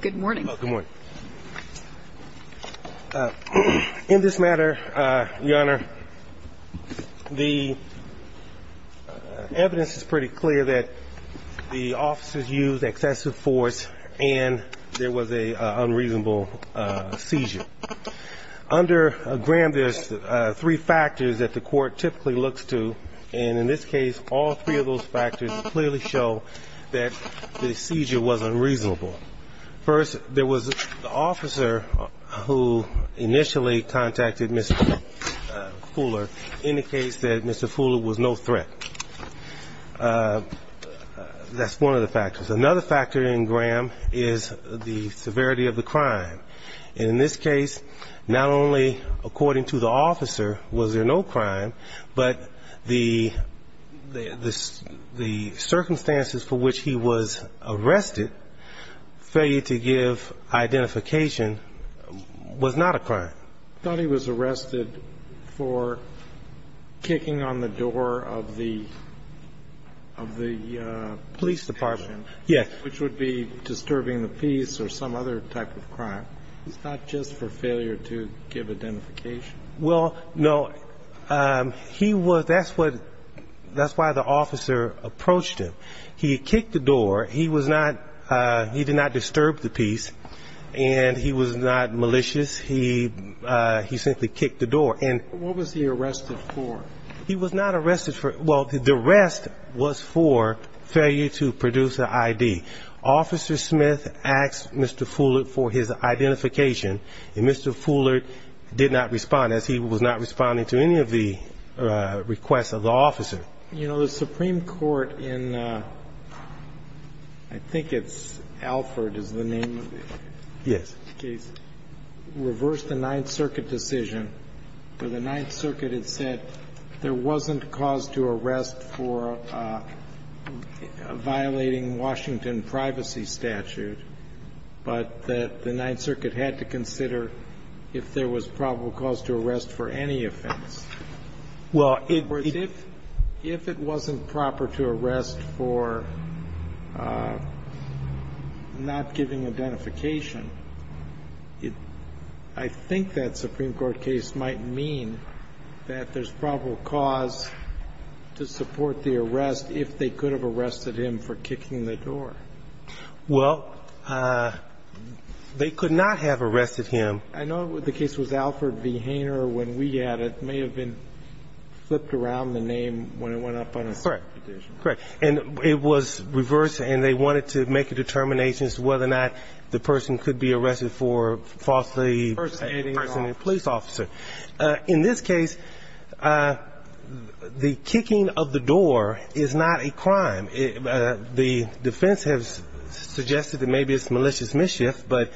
Good morning. In this matter, Your Honor, the evidence is pretty clear that the officers used excessive force and there was an unreasonable seizure. Under Graham, there's three factors that the court typically looks to, and in this case, all three of those factors clearly show that the seizure was unreasonable. First, there was the officer who initially contacted Mr. Fuller indicates that Mr. Fuller was no threat. That's one of the factors. Another factor in Graham is the severity of the crime. In this case, not only, according to the officer, was there no crime, but the circumstances for which he was arrested, failure to give identification, was not a crime. I thought he was arrested for kicking on the door of the police department, which would be disturbing the peace or some other type of crime. It's not just for failure to give identification? Well, no. That's why the officer approached him. He kicked the door. He did not disturb the peace, and he was not malicious. He simply kicked the door. What was he arrested for? He was not arrested for – well, the arrest was for failure to produce an ID. Officer Smith asked Mr. Fuller for his identification, and Mr. Fuller did not respond, as he was not responding to any of the requests of the officer. You know, the Supreme Court in, I think it's Alford is the name of the case, reversed the Ninth Circuit decision where the Ninth Circuit had said there wasn't cause to arrest for violating Washington privacy statute, but that the Ninth Circuit had to consider if there was probable cause to arrest for any offense. Well, it – If it wasn't proper to arrest for not giving identification, I think that Supreme Court case might mean that there's probable cause to support the arrest if they could have arrested him for kicking the door. Well, they could not have arrested him. I know the case was Alford v. Hainer when we had it. It may have been flipped around the name when it went up on a separate petition. Correct. And it was reversed, and they wanted to make a determination as to whether or not the person could be arrested for falsely impersonating a police officer. In this case, the kicking of the door is not a crime. The defense has suggested that maybe it's malicious mischief, but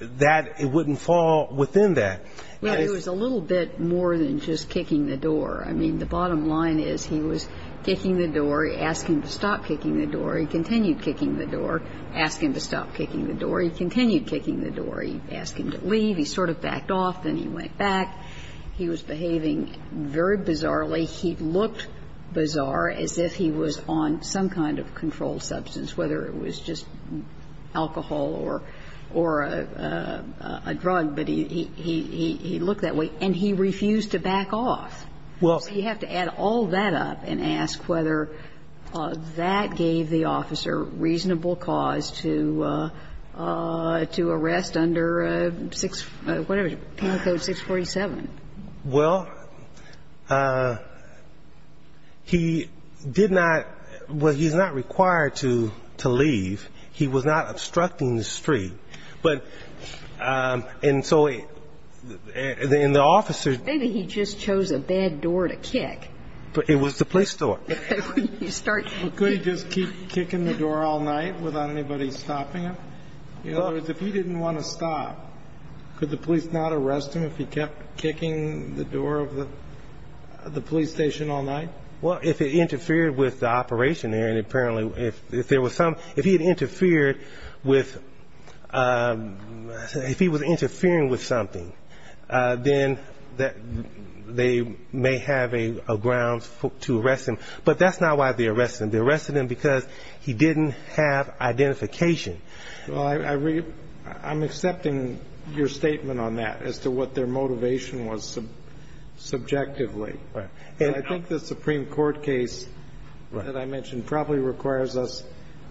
that it wouldn't fall within that. Yeah, it was a little bit more than just kicking the door. I mean, the bottom line is he was kicking the door. He asked him to stop kicking the door. He continued kicking the door. Asked him to stop kicking the door. He continued kicking the door. He asked him to leave. He sort of backed off. Then he went back. He was behaving very bizarrely. He looked bizarre as if he was on some kind of controlled substance, whether it was just alcohol or a drug. But he looked that way, and he refused to back off. So you have to add all that up and ask whether that gave the officer reasonable cause to arrest under whatever, Penal Code 647. Well, he did not. Well, he's not required to leave. He was not obstructing the street. And so the officer. Maybe he just chose a bad door to kick. It was the police door. Could he just keep kicking the door all night without anybody stopping him? In other words, if he didn't want to stop, could the police not arrest him if he kept kicking the door of the police station all night? Well, if it interfered with the operation there, and apparently if there was some, if he had interfered with, if he was interfering with something, then they may have a grounds to arrest him. But that's not why they arrested him. They arrested him because he didn't have identification. Well, I'm accepting your statement on that as to what their motivation was subjectively. Right. And I think the Supreme Court case that I mentioned probably requires us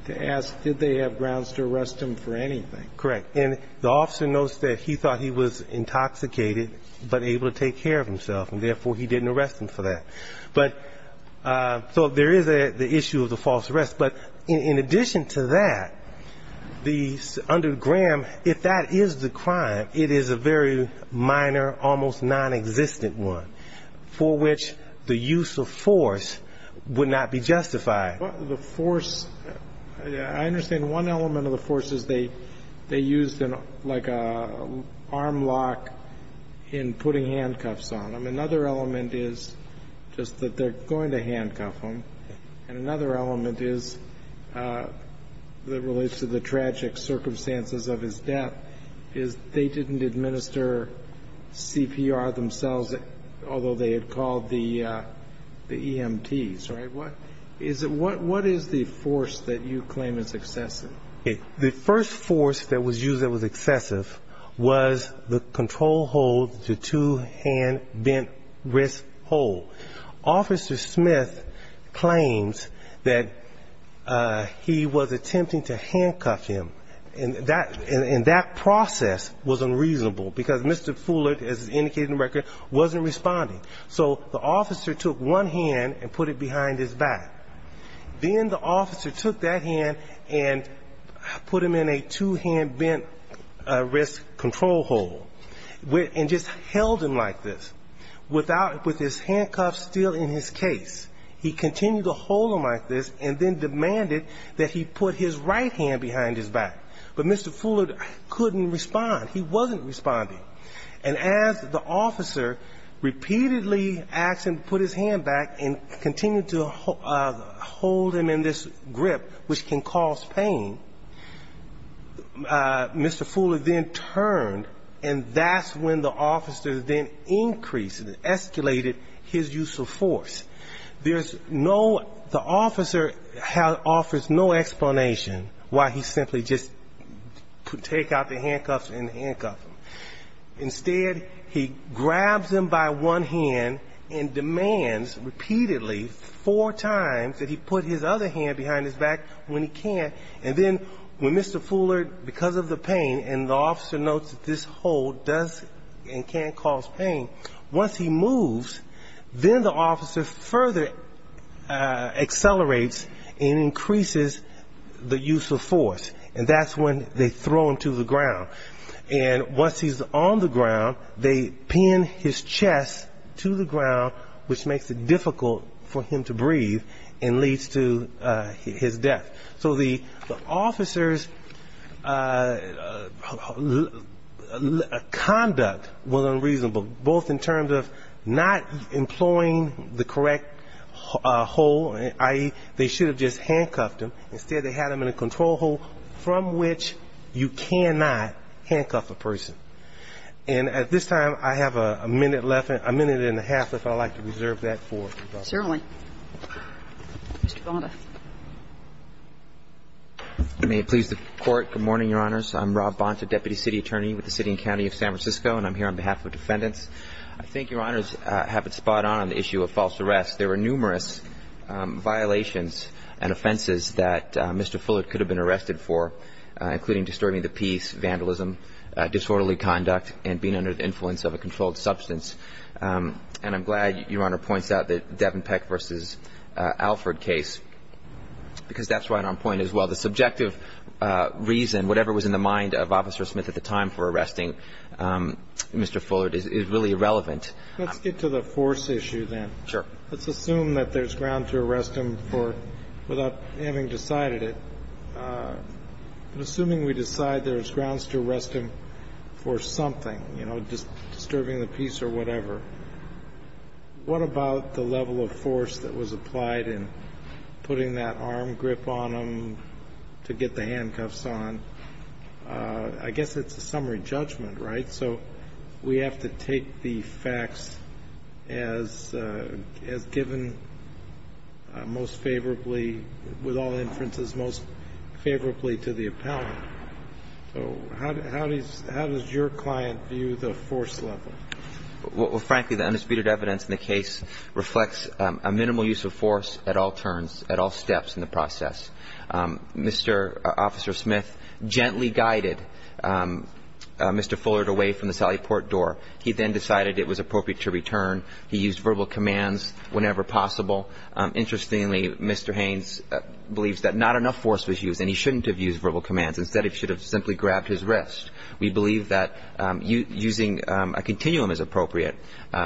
to ask did they have grounds to arrest him for anything? Correct. And the officer knows that he thought he was intoxicated but able to take care of himself, and therefore he didn't arrest him for that. So there is the issue of the false arrest. But in addition to that, under Graham, if that is the crime, it is a very minor, almost nonexistent one for which the use of force would not be justified. The force, I understand one element of the force is they used like an arm lock in putting handcuffs on him. Another element is just that they're going to handcuff him. And another element is that relates to the tragic circumstances of his death is they didn't administer CPR themselves, although they had called the EMTs, right? What is the force that you claim is excessive? The first force that was used that was excessive was the control hold, the two-hand bent wrist hold. Officer Smith claims that he was attempting to handcuff him, and that process was unreasonable because Mr. Fullert, as indicated in the record, wasn't responding. So the officer took one hand and put it behind his back. Then the officer took that hand and put him in a two-hand bent wrist control hold and just held him like this with his handcuffs still in his case. He continued to hold him like this and then demanded that he put his right hand behind his back. But Mr. Fullert couldn't respond. He wasn't responding. And as the officer repeatedly asked him to put his hand back and continue to hold him in this grip, which can cause pain, Mr. Fullert then turned, and that's when the officer then increased, escalated his use of force. There's no ‑‑ the officer offers no explanation why he simply just take out the handcuffs and handcuff him. Instead, he grabs him by one hand and demands repeatedly four times that he put his other hand behind his back when he can. And then when Mr. Fullert, because of the pain, and the officer notes that this hold does and can cause pain, once he moves, then the officer further accelerates and increases the use of force. And that's when they throw him to the ground. And once he's on the ground, they pin his chest to the ground, which makes it difficult for him to breathe and leads to his death. So the officer's conduct was unreasonable, both in terms of not employing the correct hold, i.e., they should have just handcuffed him. Instead, they had him in a control hold from which you cannot handcuff a person. And at this time, I have a minute left, a minute and a half, if I'd like to reserve that for you, Your Honor. May it please the Court. Good morning, Your Honors. I'm Rob Bonta, Deputy City Attorney with the City and County of San Francisco, and I'm here on behalf of defendants. I think Your Honors have it spot on on the issue of false arrests. There were numerous violations and offenses that Mr. Fullert could have been arrested for, including disturbing the peace, vandalism, disorderly conduct, and being under the influence of a controlled substance. And I'm glad Your Honor points out the Devenpeck v. Alford case, because that's right on point as well. The subjective reason, whatever was in the mind of Officer Smith at the time for arresting Mr. Fullert, is really irrelevant. Let's get to the force issue then. Sure. Let's assume that there's ground to arrest him for, without having decided it, but assuming we decide there's grounds to arrest him for something, you know, just disturbing the peace or whatever, what about the level of force that was applied in putting that arm grip on him to get the handcuffs on? I guess it's a summary judgment, right? So we have to take the facts as given most favorably, with all inferences, most favorably to the appellant. So how does your client view the force level? Well, frankly, the undisputed evidence in the case reflects a minimal use of force at all turns, at all steps in the process. Mr. Officer Smith gently guided Mr. Fullert away from the Sally Port door. He then decided it was appropriate to return. He used verbal commands whenever possible. Interestingly, Mr. Haynes believes that not enough force was used and he shouldn't have used verbal commands. Instead, he should have simply grabbed his wrist. We believe that using a continuum is appropriate,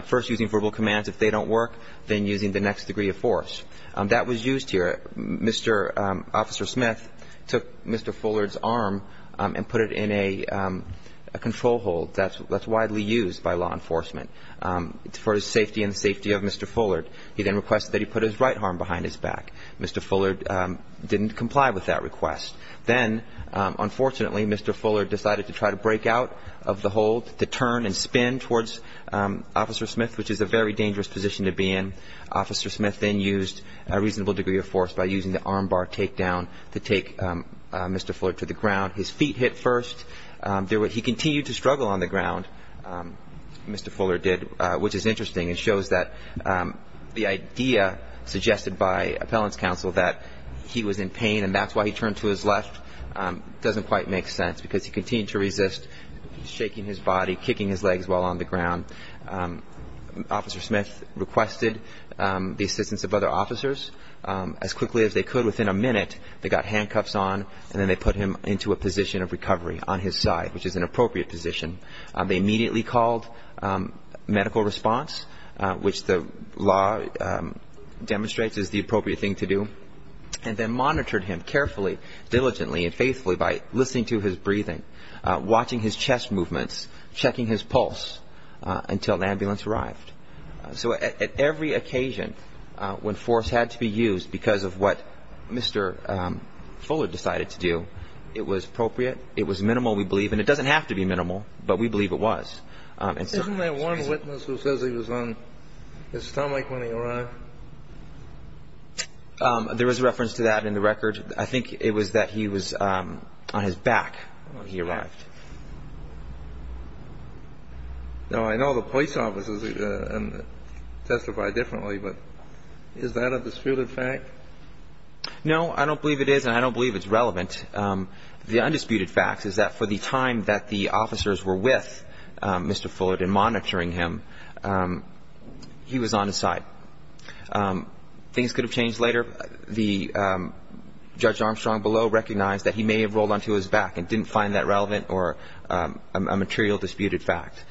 first using verbal commands if they don't work, then using the next degree of force. That was used here. Mr. Officer Smith took Mr. Fullert's arm and put it in a control hold that's widely used by law enforcement for the safety and the safety of Mr. Fullert. He then requested that he put his right arm behind his back. Mr. Fullert didn't comply with that request. Then, unfortunately, Mr. Fullert decided to try to break out of the hold, to turn and spin towards Officer Smith, which is a very dangerous position to be in. Officer Smith then used a reasonable degree of force by using the arm bar takedown to take Mr. Fullert to the ground. His feet hit first. He continued to struggle on the ground, Mr. Fullert did, which is interesting. It shows that the idea suggested by appellant's counsel that he was in pain and that's why he turned to his left doesn't quite make sense because he continued to resist, shaking his body, kicking his legs while on the ground. Officer Smith requested the assistance of other officers as quickly as they could. Within a minute, they got handcuffs on and then they put him into a position of recovery on his side, which is an appropriate position. They immediately called medical response, which the law demonstrates is the appropriate thing to do, and then monitored him carefully, diligently, and faithfully by listening to his breathing, watching his chest movements, checking his pulse until the ambulance arrived. So at every occasion when force had to be used because of what Mr. Fullert decided to do, it was appropriate. It was minimal, we believe, and it doesn't have to be minimal, but we believe it was. Isn't there one witness who says he was on his stomach when he arrived? There is a reference to that in the record. I think it was that he was on his back when he arrived. Now, I know the police officers testify differently, but is that a disputed fact? No, I don't believe it is and I don't believe it's relevant. The undisputed fact is that for the time that the officers were with Mr. Fullert and monitoring him, he was on his side. Things could have changed later. The Judge Armstrong below recognized that he may have rolled onto his back and didn't find that relevant or a material disputed fact.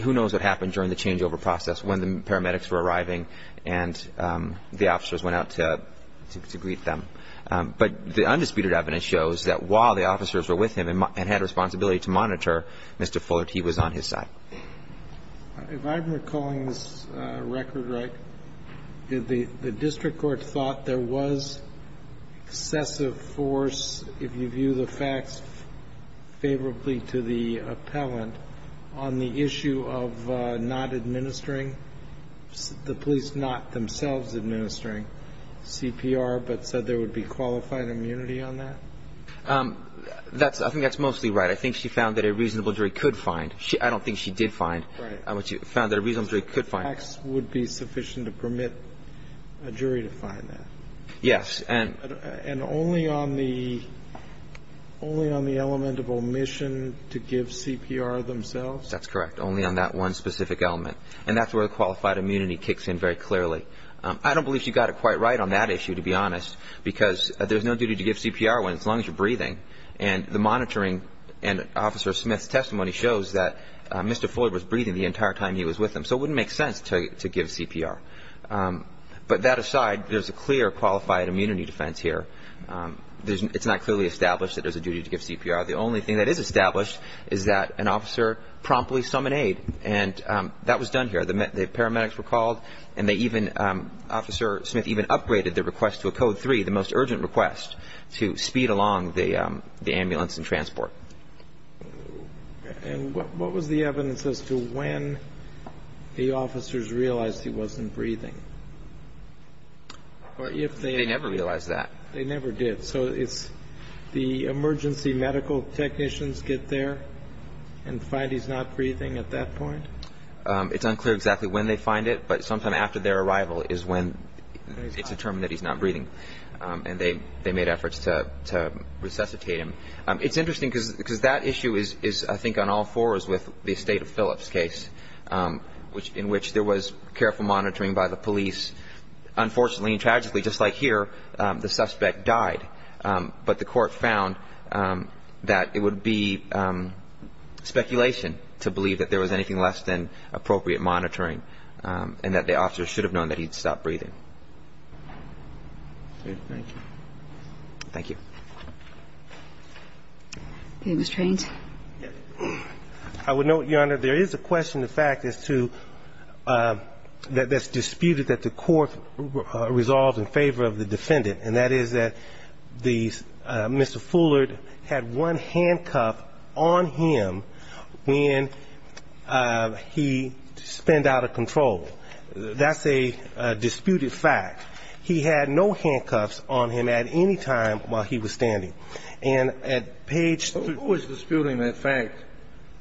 Who knows what happened during the changeover process when the paramedics were arriving and the officers went out to greet them. But the undisputed evidence shows that while the officers were with him and had a responsibility to monitor Mr. Fullert, he was on his side. If I'm recalling this record right, the district court thought there was excessive force if you view the facts favorably to the appellant on the issue of not administering, the police not themselves administering CPR, but said there would be qualified immunity on that? I think that's mostly right. I think she found that a reasonable jury could find. I don't think she did find, but she found that a reasonable jury could find. The facts would be sufficient to permit a jury to find that? Yes. And only on the element of omission to give CPR themselves? That's correct, only on that one specific element. And that's where the qualified immunity kicks in very clearly. I don't believe she got it quite right on that issue, to be honest, because there's no duty to give CPR as long as you're breathing. And the monitoring and Officer Smith's testimony shows that Mr. Fullert was breathing the entire time he was with him, so it wouldn't make sense to give CPR. But that aside, there's a clear qualified immunity defense here. It's not clearly established that there's a duty to give CPR. The only thing that is established is that an officer promptly summoned aid, and that was done here. The paramedics were called, and they even – the ambulance and transport. And what was the evidence as to when the officers realized he wasn't breathing? They never realized that. They never did. So it's the emergency medical technicians get there and find he's not breathing at that point? It's unclear exactly when they find it, but sometime after their arrival is when it's determined that he's not breathing. And they made efforts to resuscitate him. It's interesting because that issue is, I think, on all fours with the estate of Phillips case, in which there was careful monitoring by the police. Unfortunately and tragically, just like here, the suspect died, but the court found that it would be speculation to believe that there was anything less than appropriate monitoring and that the officer should have known that he'd stopped breathing. Thank you. Thank you. Mr. Haines? I would note, Your Honor, there is a question, in fact, as to – that's disputed, that the court resolved in favor of the defendant, and that is that Mr. Fullard had one handcuff on him when he spanned out of control. That's a disputed fact. He had no handcuffs on him at any time while he was standing. And at page – Who was disputing that fact?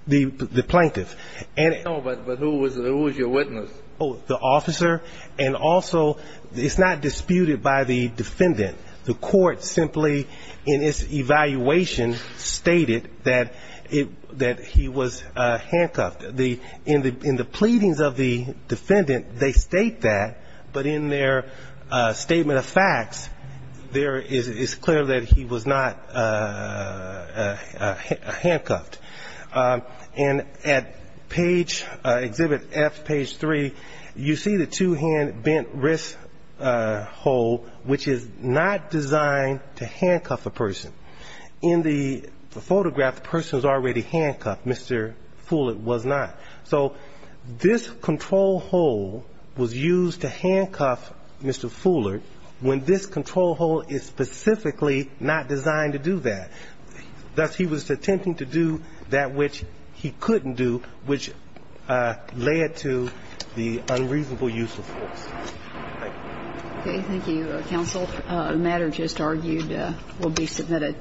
The plaintiff. No, but who was your witness? The officer. And also, it's not disputed by the defendant. The court simply, in its evaluation, stated that he was handcuffed. In the pleadings of the defendant, they state that, but in their statement of facts, it's clear that he was not handcuffed. And at page – exhibit F, page 3, you see the two-hand bent wrist hole, which is not designed to handcuff a person. In the photograph, the person was already handcuffed. Mr. Fullard was not. So this control hole was used to handcuff Mr. Fullard when this control hole is specifically not designed to do that. Thus, he was attempting to do that which he couldn't do, which led to the unreasonable use of force. Thank you. Okay, thank you, counsel. The matter just argued will be submitted.